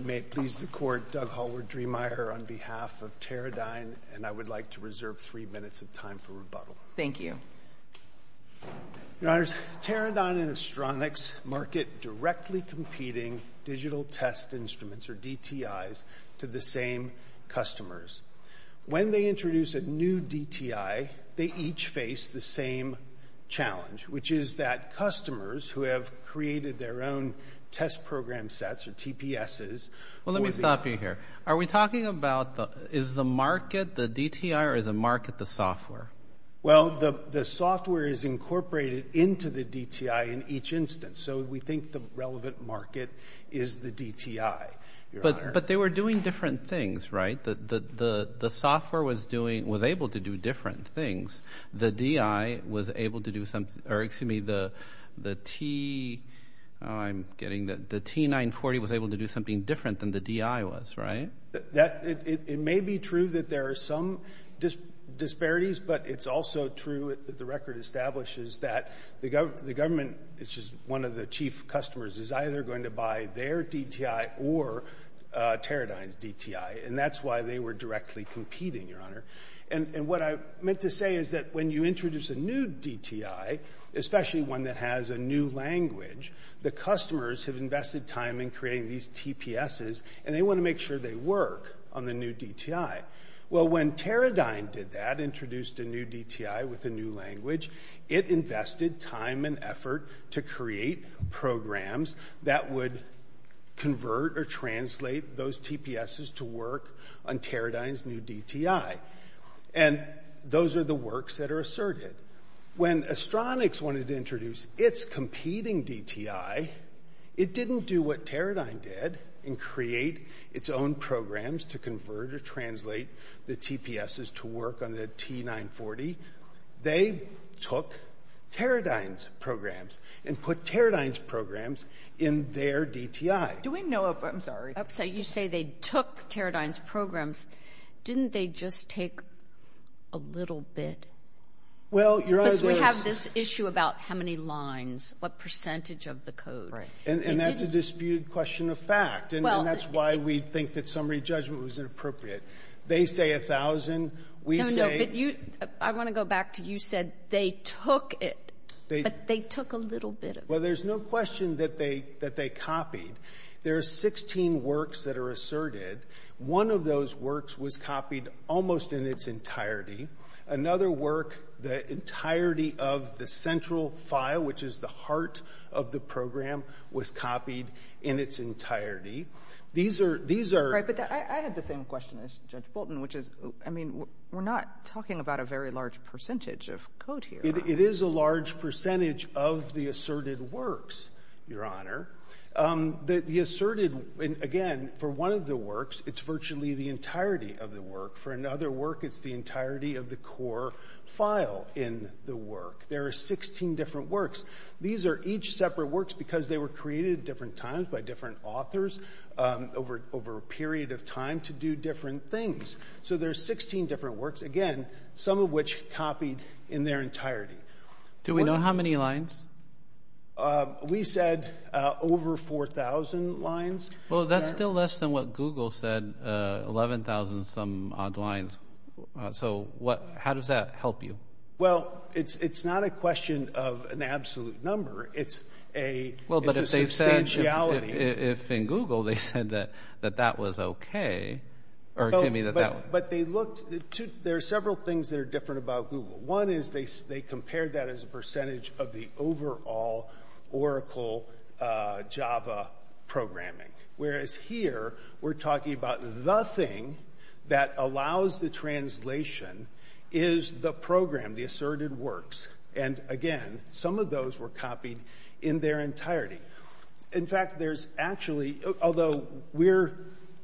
May it please the Court, Doug Hallward-Driemeier on behalf of Teradyne, and I would like to reserve three minutes of time for rebuttal. Thank you. Your Honors, Teradyne and Astronics market directly competing digital test instruments, or DTIs, to the same customers. When they introduce a new DTI, they each face the same challenge, which is that customers who have created their own test program sets, or TPSs... Well, let me stop you here. Are we talking about is the market the DTI or is the market the software? Well, the software is incorporated into the DTI in each instance, so we think the relevant market is the DTI, Your Honor. But they were doing different things, right? The software was able to do different things. The T940 was able to do something different than the DTI was, right? It may be true that there are some disparities, but it's also true that the record establishes that the government, which is one of the chief customers, is either going to buy their DTI or Teradyne's DTI, and that's why they were directly competing, Your Honor. And what I meant to say is that when you introduce a new DTI, especially one that has a new language, the customers have invested time in creating these TPSs, and they want to make sure they work on the new DTI. Well, when Teradyne did that, introduced a new DTI with a new language, it invested time and effort to create programs that would convert or translate those TPSs to work on Teradyne's new DTI. And those are the works that are asserted. When Astronix wanted to introduce its competing DTI, it didn't do what Teradyne did and create its own programs to convert or translate the TPSs to work on the T940. They took Teradyne's programs and put Teradyne's programs in their DTI. Do we know of them? So you say they took Teradyne's programs. Didn't they just take a little bit? Well, Your Honor, there's — Because we have this issue about how many lines, what percentage of the code. Right. And that's a disputed question of fact, and that's why we think that summary judgment was inappropriate. They say 1,000, we say — No, no. I want to go back to you said they took it, but they took a little bit of it. Well, there's no question that they copied. There are 16 works that are asserted. One of those works was copied almost in its entirety. Another work, the entirety of the central file, which is the heart of the program, was copied in its entirety. These are — But I had the same question as Judge Bolton, which is, I mean, we're not talking about a very large percentage of code here. It is a large percentage of the asserted works, Your Honor. The asserted — Again, for one of the works, it's virtually the entirety of the work. For another work, it's the entirety of the core file in the work. There are 16 different works. These are each separate works because they were created at different times by different authors over a period of time to do different things. So there are 16 different works, again, some of which copied in their entirety. Do we know how many lines? We said over 4,000 lines. Well, that's still less than what Google said, 11,000-some-odd lines. So how does that help you? Well, it's not a question of an absolute number. It's a — Well, but if they said — It's a substantiality. If in Google they said that that was okay, or to me that that was — But they looked — There are several things that are different about Google. One is they compared that as a percentage of the overall Oracle Java programming, whereas here we're talking about the thing that allows the translation is the program, the asserted works. And again, some of those were copied in their entirety. In fact, there's actually — Although we're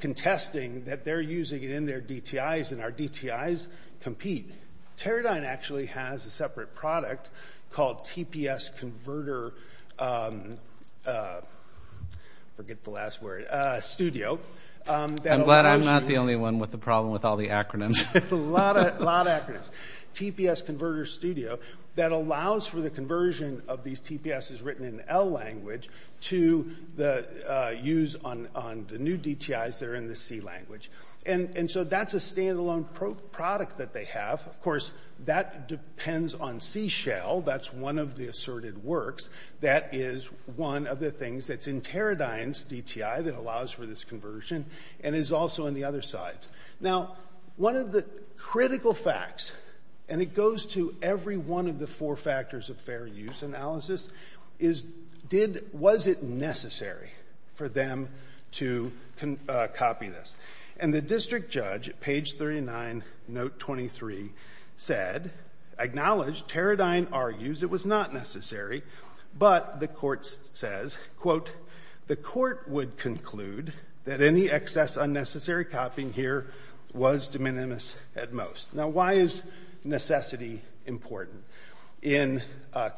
contesting that they're using it in their DTIs, and our DTIs compete, Teradyne actually has a separate product called TPS Converter — I forget the last word — Studio that allows you — I'm glad I'm not the only one with a problem with all the acronyms. A lot of acronyms. TPS Converter Studio that allows for the conversion of these TPSs written in L language to the use on the new DTIs that are in the C language. And so that's a standalone product that they have. Of course, that depends on C Shell. That's one of the asserted works. That is one of the things that's in Teradyne's DTI that allows for this conversion and is also in the other sides. Now, one of the critical facts, and it goes to every one of the four factors of fair use analysis, is did — was it necessary for them to copy this? And the district judge at page 39, note 23, said — acknowledged, Teradyne argues it was not necessary, but the court says, quote, the court would conclude that any excess unnecessary copying here was de minimis at most. Now, why is necessity important? In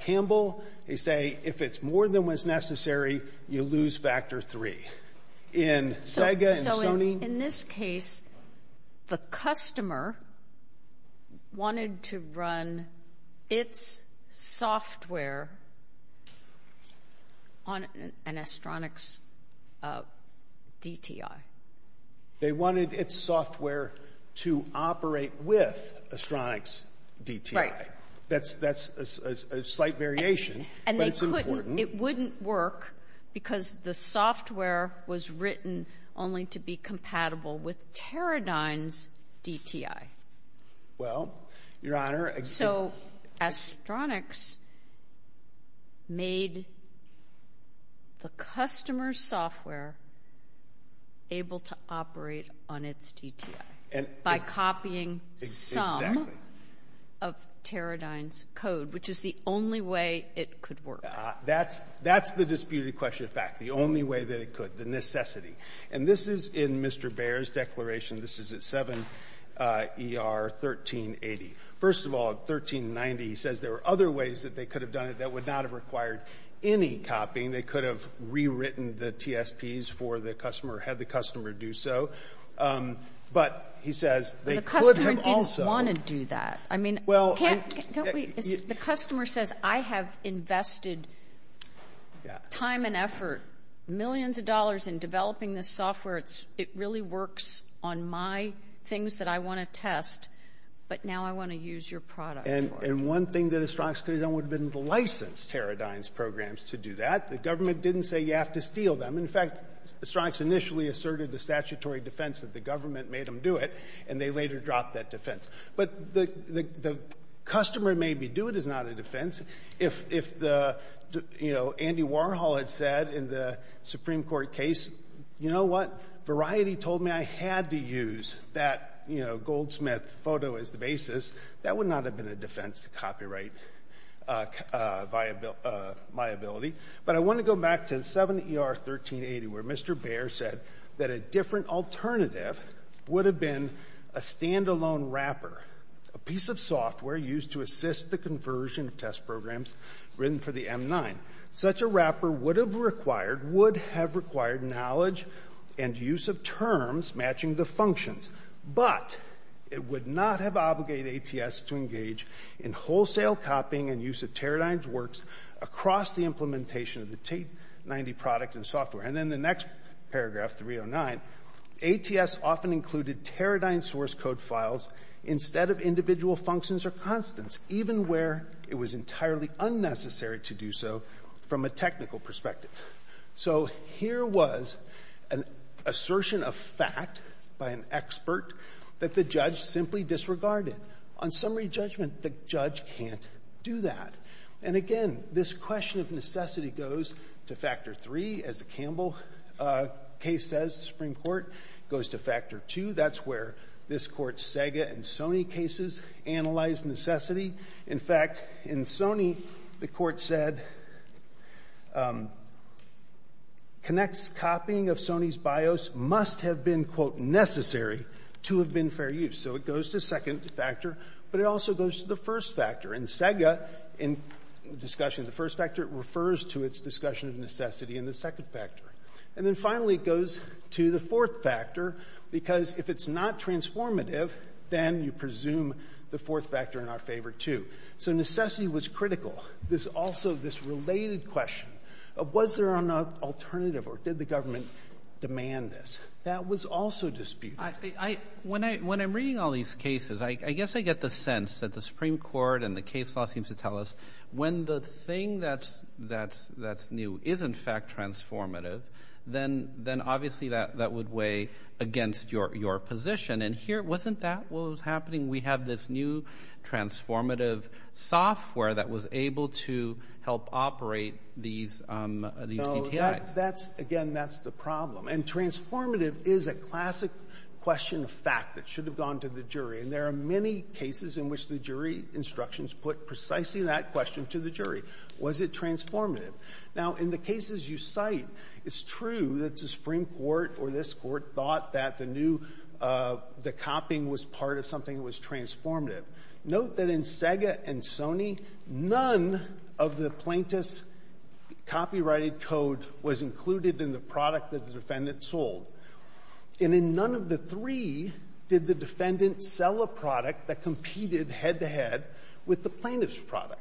Campbell, they say if it's more than what's necessary, you lose factor three. In Sega and Sony — So in this case, the customer wanted to run its software on an Astronix DTI. They wanted its software to operate with Astronix DTI. Right. That's a slight variation, but it's important. And they couldn't — it wouldn't work because the software was written only to be compatible with Teradyne's DTI. Well, Your Honor — So Astronix made the customer's software able to operate on its DTI by copying some of Teradyne's code, which is the only way it could work. That's the disputed question of fact, the only way that it could, the necessity. And this is in Mr. Baer's declaration. This is at 7 ER 1380. First of all, at 1390, he says there were other ways that they could have done it that would not have required any copying. They could have rewritten the TSPs for the customer, had the customer do so. But he says they could have also — The customer didn't want to do that. I mean, can't we — The customer says, I have invested time and effort, millions of dollars, in developing this software. It really works on my things that I want to test, but now I want to use your product. And one thing that Astronix could have done would have been to license Teradyne's programs to do that. The government didn't say you have to steal them. In fact, Astronix initially asserted the statutory defense that the government made them do it, and they later dropped that defense. But the customer made me do it is not a defense. If Andy Warhol had said in the Supreme Court case, you know what, Variety told me I had to use that Goldsmith photo as the basis, that would not have been a defense to copyright viability. But I want to go back to 7 ER 1380, where Mr. Baer said that a different alternative would have been a standalone wrapper, a piece of software used to assist the conversion of test programs written for the M9. Such a wrapper would have required — would have required knowledge and use of terms matching the functions, but it would not have obligated ATS to engage in wholesale copying and use of Teradyne's works across the implementation of the T90 product and software. And then the next paragraph, 309, ATS often included Teradyne source code files instead of individual functions or constants, even where it was entirely unnecessary to do so from a technical perspective. So here was an assertion of fact by an expert that the judge simply disregarded. On summary judgment, the judge can't do that. And again, this question of necessity goes to factor three, as the Campbell case says, the Supreme Court, goes to factor two. That's where this Court's Sega and Sony cases analyze necessity. In fact, in Sony, the Court said Kinect's copying of Sony's BIOS must have been, quote, necessary to have been fair use. So it goes to second factor, but it also goes to the first factor. And Sega, in discussion of the first factor, refers to its discussion of necessity in the second factor. And then finally, it goes to the fourth factor, because if it's not transformative, then you presume the fourth factor in our favor, too. So necessity was critical. This also, this related question of was there an alternative or did the government demand this, that was also disputed. When I'm reading all these cases, I guess I get the sense that the Supreme Court and the case law seems to tell us when the thing that's new is, in fact, transformative, then obviously that would weigh against your position. And wasn't that what was happening? We have this new transformative software that was able to help operate these DTI. Again, that's the problem. And transformative is a classic question of fact that should have gone to the jury. And there are many cases in which the jury instructions put precisely that question to the jury. Was it transformative? Now, in the cases you cite, it's true that the Supreme Court or this Court thought that the new, the copying was part of something that was transformative. Note that in Sega and Sony, none of the plaintiff's copyrighted code was included in the product that the defendant sold. And in none of the three did the defendant sell a product that competed head-to-head with the plaintiff's product.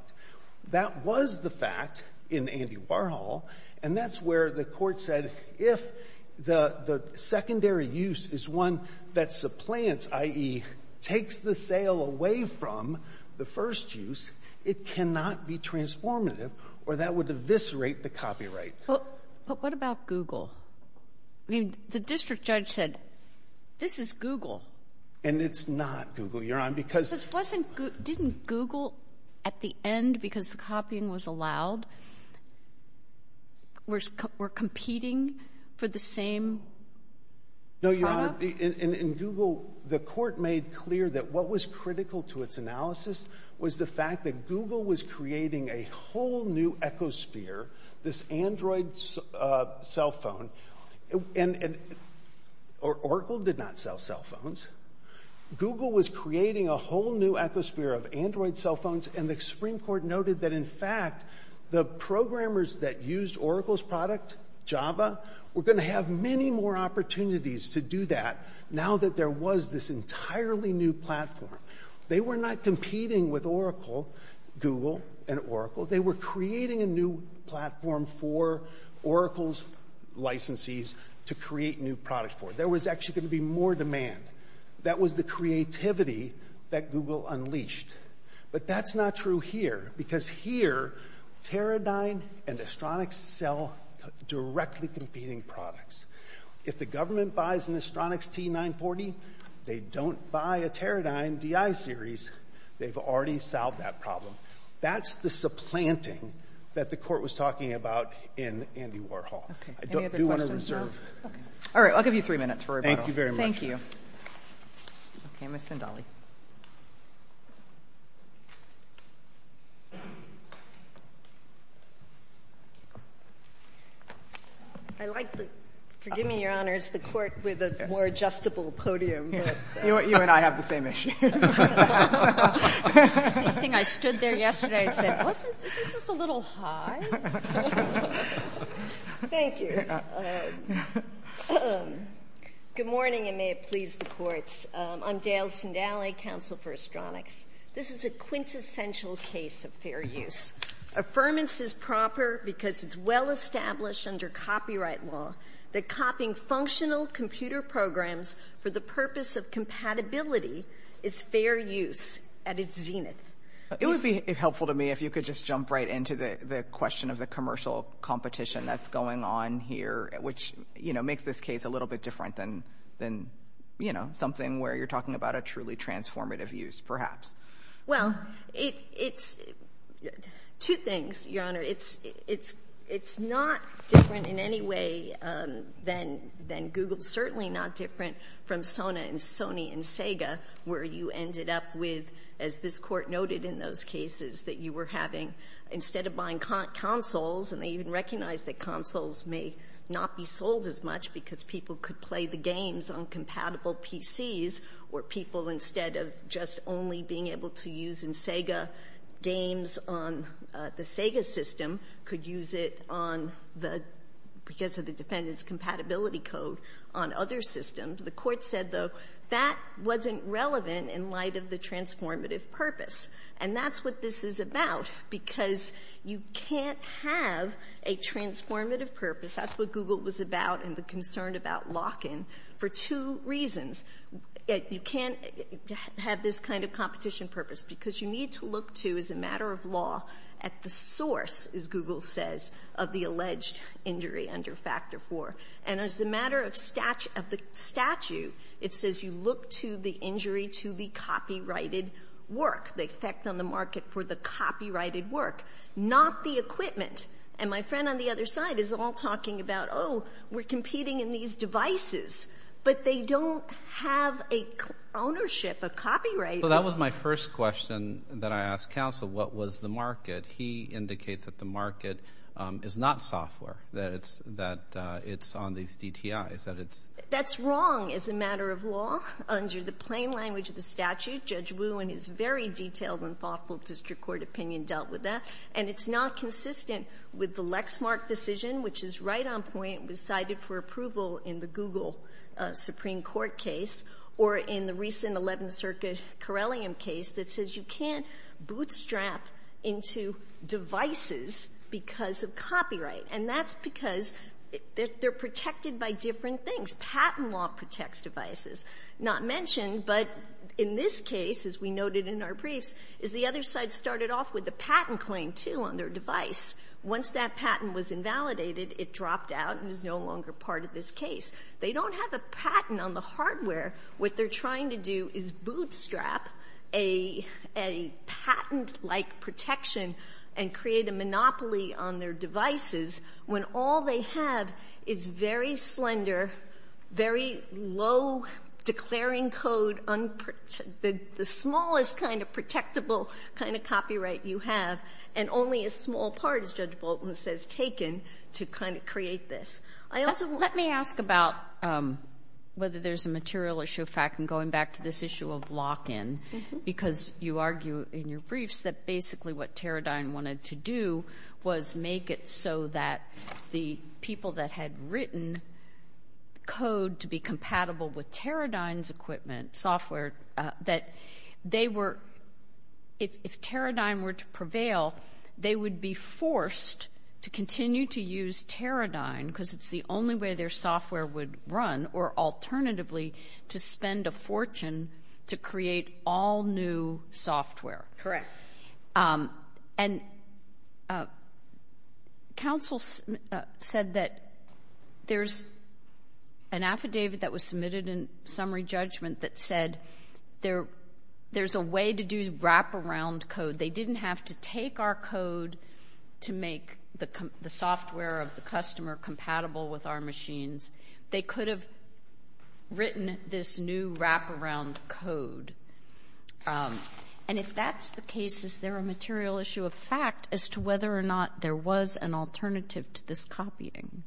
That was the fact in Andy Warhol. And that's where the Court said if the secondary use is one that supplants, i.e., takes the sale away from the first use, it cannot be transformative or that would eviscerate the copyright. But what about Google? I mean, the district judge said, this is Google. And it's not Google, Your Honor, because Didn't Google, at the end, because the copying was allowed, were competing for the same product? No, Your Honor. In Google, the Court made clear that what was critical to its analysis was the fact that Google was creating a whole new ecosphere, this Android cell phone. And Oracle did not sell cell phones. Google was creating a whole new ecosphere of Android cell phones. And the Supreme Court noted that, in fact, the programmers that used Oracle's product, Java, were going to have many more opportunities to do that now that there was this entirely new platform. They were not competing with Oracle, Google and Oracle. They were creating a new platform for Oracle's licensees to create new products for. There was actually going to be more demand. That was the creativity that Google unleashed. But that's not true here, because here, Teradyne and Astronix sell directly competing products. If the government buys an Astronix T940, they don't buy a Teradyne DI series. They've already solved that problem. That's the supplanting that the Court was talking about in Andy Warhol. I do want to reserve. All right, I'll give you three minutes for rebuttal. Thank you very much. Thank you. Okay, Ms. Zendali. I like the—forgive me, Your Honors—the Court with a more adjustable podium. You and I have the same issues. I think I stood there yesterday and said, isn't this a little high? Thank you. Good morning, and may it please the Courts. I'm Dale Zendali, counsel for Astronix. This is a quintessential case of fair use. Affirmance is proper because it's well established under copyright law that copying functional computer programs for the purpose of compatibility is fair use at its zenith. It would be helpful to me if you could just jump right into the question of the commercial competition that's going on here, which, you know, makes this case a little bit different than, you know, something where you're talking about a truly transformative use, perhaps. Well, it's—two things, Your Honor. It's not different in any way than Google, certainly not different from Sony and Sega, where you ended up with, as this Court noted in those cases, that you were having instead of buying consoles, and they even recognized that consoles may not be sold as much because people could play the games on compatible PCs, or people instead of just only being able to use in Sega games on the Sega system could use it on the—because of the defendant's compatibility code on other systems. The Court said, though, that wasn't relevant in light of the transformative purpose, and that's what this is about, because you can't have a transformative purpose. That's what Google was about and the concern about lock-in for two reasons. You can't have this kind of competition purpose because you need to look to, as a matter of law, at the source, as Google says, of the alleged injury under Factor IV. And as a matter of statute, it says you look to the injury to the copyrighted work, the effect on the market for the copyrighted work, not the equipment. And my friend on the other side is all talking about, oh, we're competing in these devices, but they don't have a ownership, a copyright. Well, that was my first question that I asked counsel, what was the market? He indicates that the market is not software, that it's on these DTIs, that it's— That's wrong as a matter of law under the plain language of the statute. Judge Wu, in his very detailed and thoughtful district court opinion, dealt with that. And it's not consistent with the Lexmark decision, which is right on point and was cited for approval in the Google Supreme Court case or in the recent Eleventh Amendment case, where they bootstrap into devices because of copyright. And that's because they're protected by different things. Patent law protects devices. Not mentioned, but in this case, as we noted in our briefs, is the other side started off with the patent claim, too, on their device. Once that patent was invalidated, it dropped out and is no longer part of this case. They don't have a patent on the hardware. What they're trying to do is bootstrap a patent-like protection and create a monopoly on their devices when all they have is very slender, very low declaring code, the smallest kind of protectable kind of copyright you have, and only a small part, as Judge Bolton says, taken to kind of create this. Let me ask about whether there's a material issue. In fact, I'm going back to this issue of lock-in because you argue in your briefs that basically what Teradyne wanted to do was make it so that the people that had written code to be compatible with Teradyne's equipment, software, that if Teradyne were to prevail, they would be forced to continue to use Teradyne because it's the only way their software would run, or alternatively, to spend a fortune to create all new software. Correct. And counsel said that there's an affidavit that was submitted in summary judgment that said there's a way to do wraparound code. They didn't have to take our code to make the software of the customer compatible with our machines. They could have written this new wraparound code. And if that's the case, is there a material issue of fact as to whether or not there was an alternative to this copying?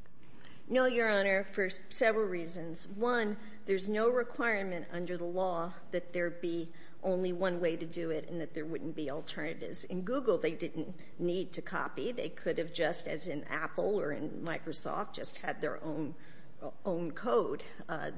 No, Your Honor, for several reasons. One, there's no requirement under the law that there be only one way to do it and that there wouldn't be alternatives. In Google, they didn't need to copy. They could have just, as in Apple or in Microsoft, just had their own code.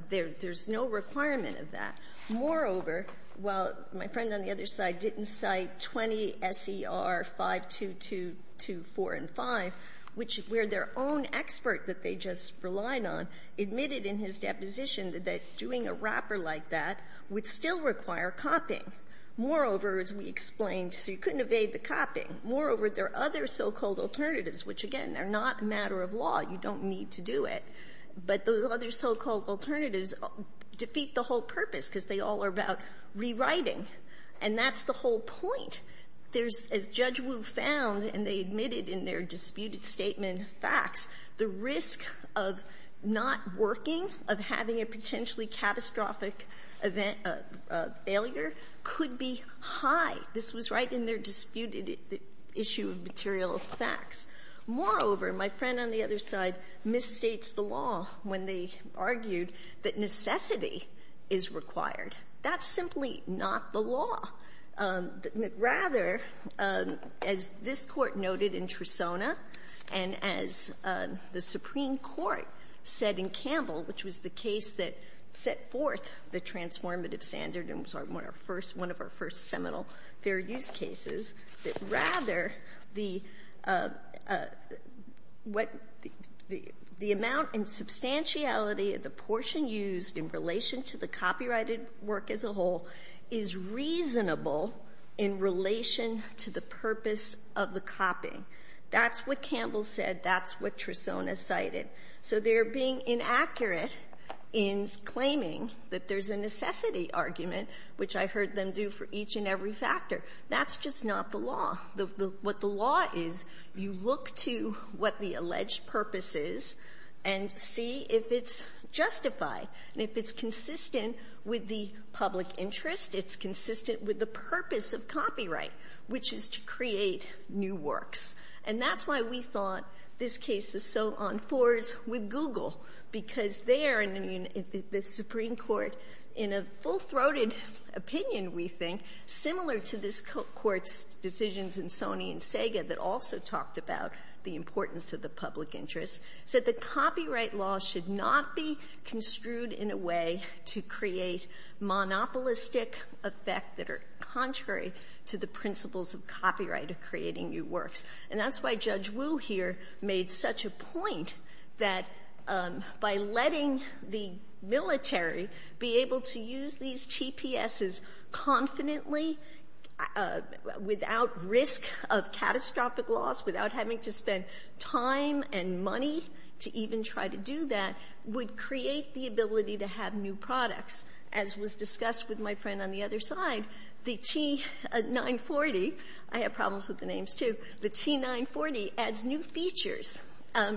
There's no requirement of that. Moreover, while my friend on the other side didn't cite 20 S.E.R. 52224 and 5, which were their own expert that they just relied on, admitted in his deposition that doing a wrapper like that would still require copying. Moreover, as we explained, so you couldn't evade the copying, moreover, there are other so-called alternatives, which, again, are not a matter of law. You don't need to do it. But those other so-called alternatives defeat the whole purpose because they all are about rewriting. And that's the whole point. There's, as Judge Wu found and they admitted in their disputed statement of facts, the risk of not working, of having a potentially catastrophic event, failure, could be high. This was right in their disputed issue of material facts. Moreover, my friend on the other side misstates the law when they argued that necessity is required. That's simply not the law. Rather, as this Court noted in Tresona and as the Supreme Court said in Campbell, which was the case that set forth the transformative standard and was our first, one of our first seminal fair use cases, that rather the amount and substantiality of the portion used in relation to the copyrighted work as a whole is reasonable in relation to the purpose of the copying. That's what Campbell said. That's what Tresona cited. So they're being inaccurate in claiming that there's a necessity argument, which I heard them do for each and every factor. That's just not the law. What the law is, you look to what the alleged purpose is and see if it's justified. And if it's consistent with the public interest, it's consistent with the purpose of copyright, which is to create new works. And that's why we thought this case is so on fours with Google, because there, in the Supreme Court, in a full-throated opinion, we think, similar to this Court's decisions in Sony and Sega that also talked about the importance of the public interest, said the copyright law should not be construed in a way to create monopolistic effect that are contrary to the principles of copyright of creating new works. And that's why Judge Wu here made such a point that by letting the military be able to use these TPSs confidently, without risk of catastrophic loss, without having to spend time and money to even try to do that, would create the ability to have new products, as was discussed with my friend on the other side. The T940, I have problems with the names, too, the T940 adds new features.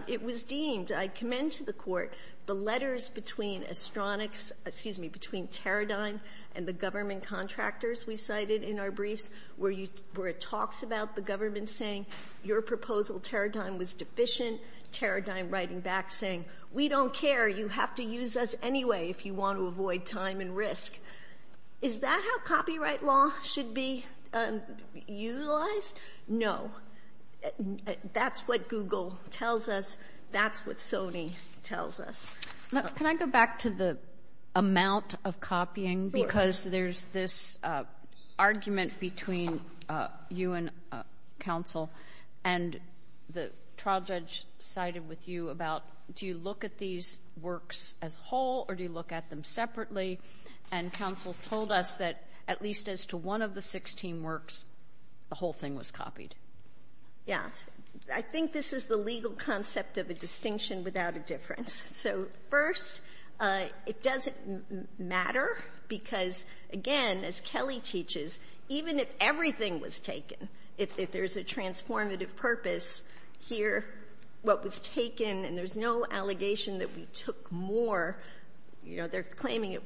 It was deemed, I commend to the Court, the letters between Astronix, excuse me, between Teradyne and the government contractors we cited in our briefs, where it talks about the government saying your proposal, Teradyne, was deficient, Teradyne writing back saying, we don't care, you have to use us anyway if you want to avoid time and risk. Is that how copyright law should be utilized? No. That's what Google tells us, that's what Sony tells us. Can I go back to the amount of copying? Because there's this argument between you and counsel, and the trial judge sided with you about, do you look at these works as whole, or do you look at them separately? And counsel told us that at least as to one of the 16 works, the whole thing was copied. Yes. I think this is the legal concept of a distinction without a difference. So first, it doesn't matter, because again, as Kelly teaches, even if everything was taken, if there's a transformative purpose, here, what was taken, and there's no allegation that we took more, they're claiming it.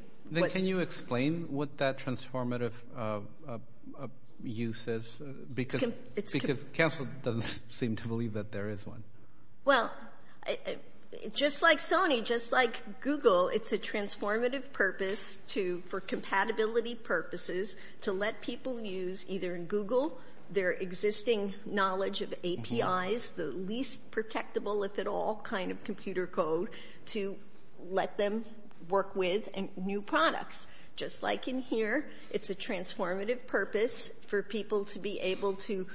Can you explain what that transformative use is? Because counsel doesn't seem to believe that there is one. Well, just like Sony, just like Google, it's a transformative purpose for compatibility purposes to let people use, either in Google, their existing knowledge of APIs, the least protectable, if at all, kind of computer code, to let them work with new products. Just like in here, it's a transformative purpose for people to be able to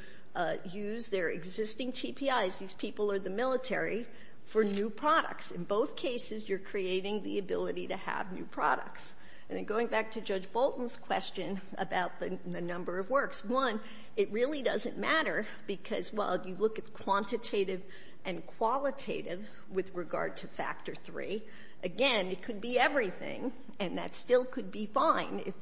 use their existing TPIs, these people are the military, for new products. In both cases, you're creating the ability to have new products. And then going back to Judge Bolton's question about the number of works, one, it really doesn't matter, because while you look at quantitative and qualitative with regard to Factor 3, again, it could be everything, and that still could be fine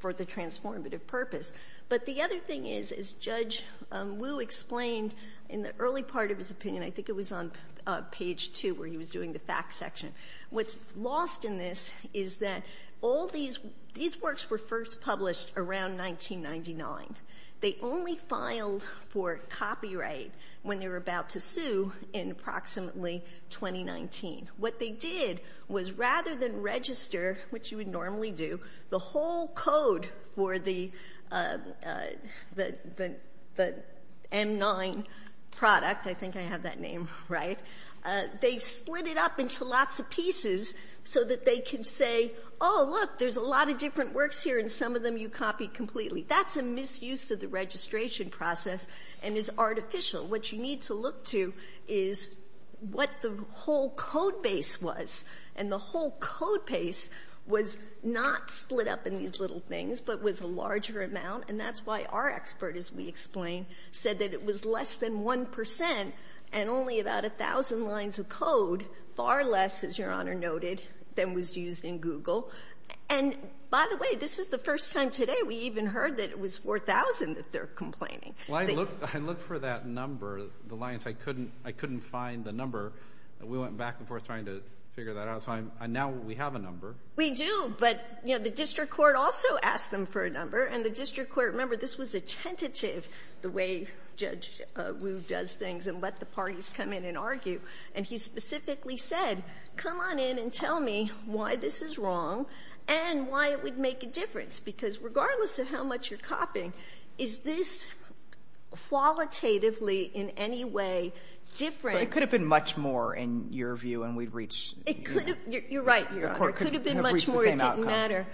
for the transformative purpose. But the other thing is, as Judge Wu explained in the early part of his opinion, I think it was on page 2 where he was doing the facts section, what's lost in this is that all these works were first published around 1999. They only filed for copyright when they were about to sue in approximately 2019. What they did was rather than register, which you would normally do, the whole code for the M9 product, I think I have that name right, they split it up into lots of pieces so that they could say, oh, look, there's a lot of different works here, and some of them you copied completely. That's a misuse of the registration process and is artificial. What you need to look to is what the whole code base was. And the whole code base was not split up in these little things, but was a larger amount. And that's why our expert, as we explained, said that it was less than 1 percent and only about 1,000 lines of code, far less, as Your Honor noted, than was used in Google. And by the way, this is the first time today we even heard that it was 4,000 that they're complaining. CHIEF JUSTICE ROBERTS, JR.: Well, I looked for that number, the lines. I couldn't find the number. We went back and forth trying to figure that out. So now we have a number. JUSTICE GINSBURG-MURPHY We do, but the district court also asked them for a number. And the district court, remember, this was a tentative, the way Judge Wu does things, and let the parties come in and argue. And he specifically said, come on in and tell me why this is wrong and why it would make a difference. Because regardless of how much you're copying, is this qualitatively in any way different? CHIEF JUSTICE ROBERTS, JR.: It could have been much more, in your view, and we'd reach the same outcome. JUSTICE GINSBURG-MURPHY You're right, Your Honor. It could have been much more. It didn't matter.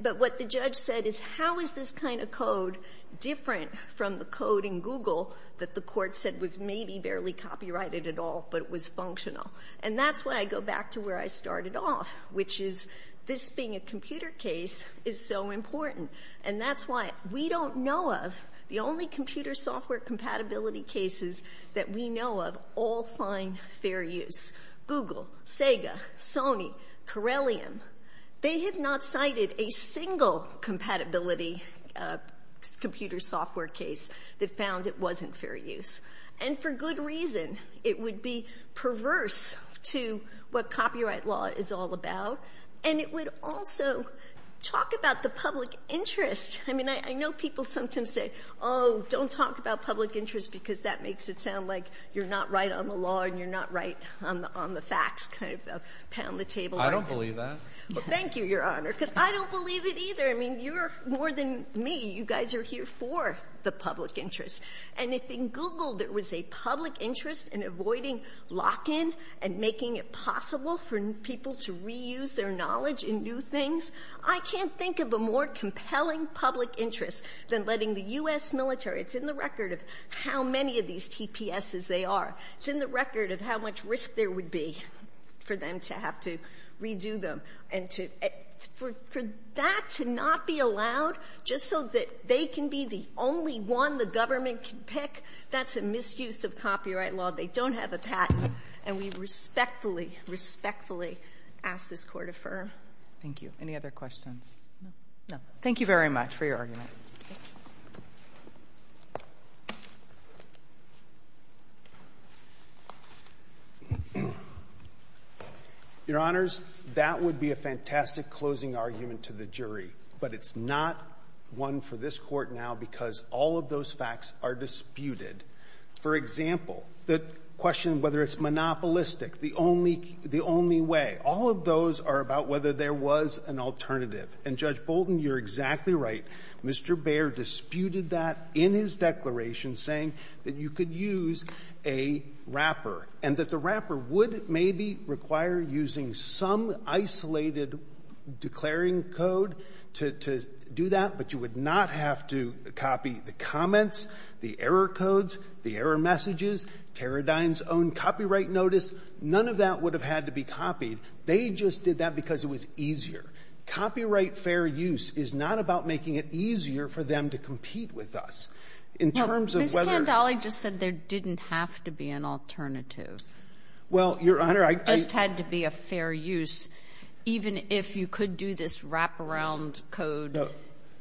But what the judge said is, how is this kind of code different from the code in Google that the court said was maybe barely copyrighted at all, but was functional? And that's why I go back to where I started off, which is this being a computer case is so important. And that's why we don't know of the only computer software compatibility cases that we know of all find fair use. Google, Sega, Sony, Corellium, they have not cited a single compatibility computer software case that found it wasn't fair use. And for good reason. It would be perverse to what copyright law is all about. And it would also talk about the public interest. I mean, I know people sometimes say, oh, don't talk about public interest because that makes it sound like you're not right on the law and you're not right on the facts, kind of pound the table. CHIEF JUSTICE ALITO, JR.: I don't believe that. JUSTICE GINSBURG-MURPHY Thank you, Your Honor, because I don't believe it either. I mean, you're more than me. You guys are here for the public interest. And if in Google there was a public interest in avoiding lock-in and making it possible for people to reuse their knowledge in new things, I can't think of a more compelling public interest than letting the U.S. military, it's in the record of how many of these TPSs they are, it's in the record of how much risk there would be for them to have to redo them. And for that to not be allowed just so that they can be the only one the government can pick, that's a misuse of copyright law. They don't have a patent. And we respectfully, respectfully ask this Court affirm. CHIEF JUSTICE ALITO, JR.: Thank you. Any other questions? No. Thank you very much for your argument. Your Honors, that would be a fantastic closing argument to the jury, but it's not one for this Court now because all of those facts are disputed. For example, the question of whether it's monopolistic, the only way, all of those are about whether there was an alternative. And, Judge Bolton, you're exactly right. Mr. Baer disputed that in his declaration, saying that you could use a wrapper and that the wrapper would maybe require using some isolated declaring code to do that, but you would not have to copy the comments, the error codes, the error messages, Teradyne's own copyright notice. None of that would have had to be copied. They just did that because it was easier. Copyright fair use is not about making it easier for them to compete with us. In terms of whether— Well, Ms. Candale just said there didn't have to be an alternative. Well, Your Honor, I— It just had to be a fair use, even if you could do this wraparound code. No.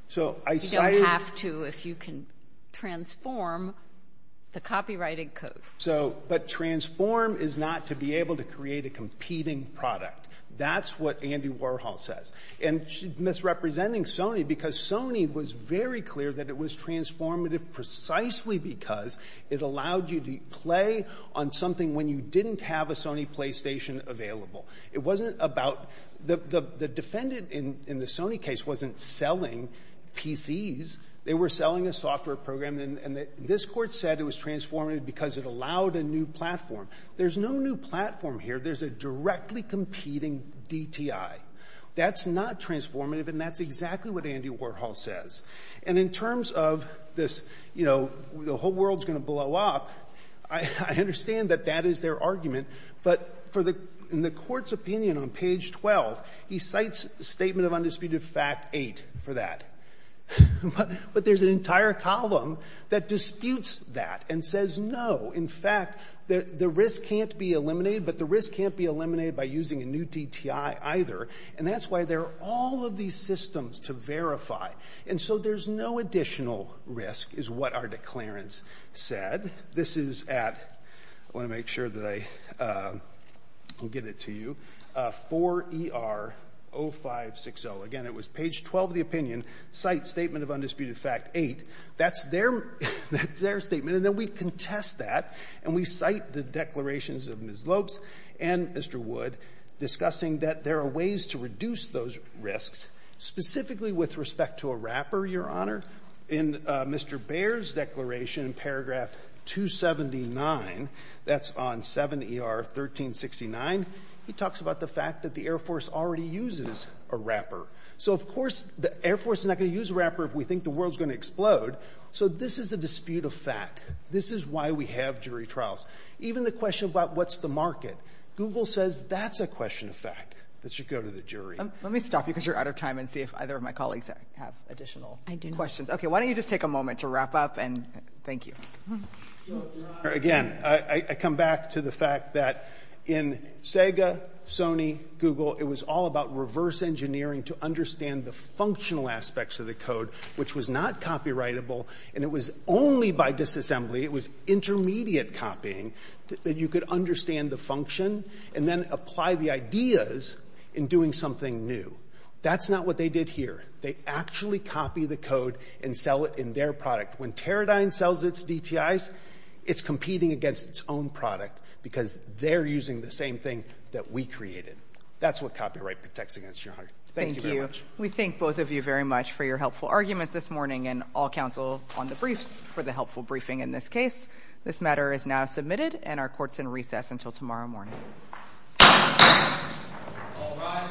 So, I cited— You don't have to if you can transform the copyrighted code. So, but transform is not to be able to create a competing product. That's what Andy Warhol says. And she's misrepresenting Sony because Sony was very clear that it was transformative precisely because it allowed you to play on something when you didn't have a Sony PlayStation available. It wasn't about—the defendant in the Sony case wasn't selling PCs. They were selling a software program, and this Court said it was transformative because it allowed a new platform. There's no new platform here. There's a directly competing DTI. That's not transformative, and that's exactly what Andy Warhol says. And in terms of this, you know, the whole world is going to blow up, I understand that that is their argument. But for the Court's opinion on page 12, he cites Statement of Undisputed Fact 8 for that. But there's an entire column that disputes that and says, no, in fact, the risk can't be eliminated, but the risk can't be eliminated by using a new DTI either. And that's why there are all of these systems to verify. And so there's no additional risk is what our declarants said. This is at—I want to make sure that I get it to you—4ER0560. Again, it was page 12 of the opinion, cites Statement of Undisputed Fact 8. That's their statement. And then we contest that, and we cite the declarations of Ms. Lopes and Mr. Wood discussing that there are ways to reduce those risks, specifically with respect to a wrapper, Your Honor. In Mr. Baer's declaration, paragraph 279, that's on 7ER1369, he talks about the fact that the Air Force already uses a wrapper. So, of course, the Air Force is not going to use a wrapper if we think the world is going to explode. So this is a dispute of fact. This is why we have jury trials. Even the question about what's the market, Google says that's a question of fact that should go to the jury. Let me stop you because you're out of time and see if either of my colleagues have additional questions. Okay. Why don't you just take a moment to wrap up, and thank you. So, Your Honor, again, I come back to the fact that in Sega, Sony, Google, it was all about reverse engineering to understand the functional aspects of the code, which was not copyrightable, and it was only by disassembly, it was intermediate copying, that you could understand the function and then apply the ideas in doing something new. That's not what they did here. They actually copy the code and sell it in their product. When Teradyne sells its DTIs, it's competing against its own product because they're using the same thing that we created. That's what copyright protects against, Your Honor. Thank you very much. No arguments this morning in all counsel on the briefs for the helpful briefing in this case. This matter is now submitted, and our court's in recess until tomorrow morning. All rise.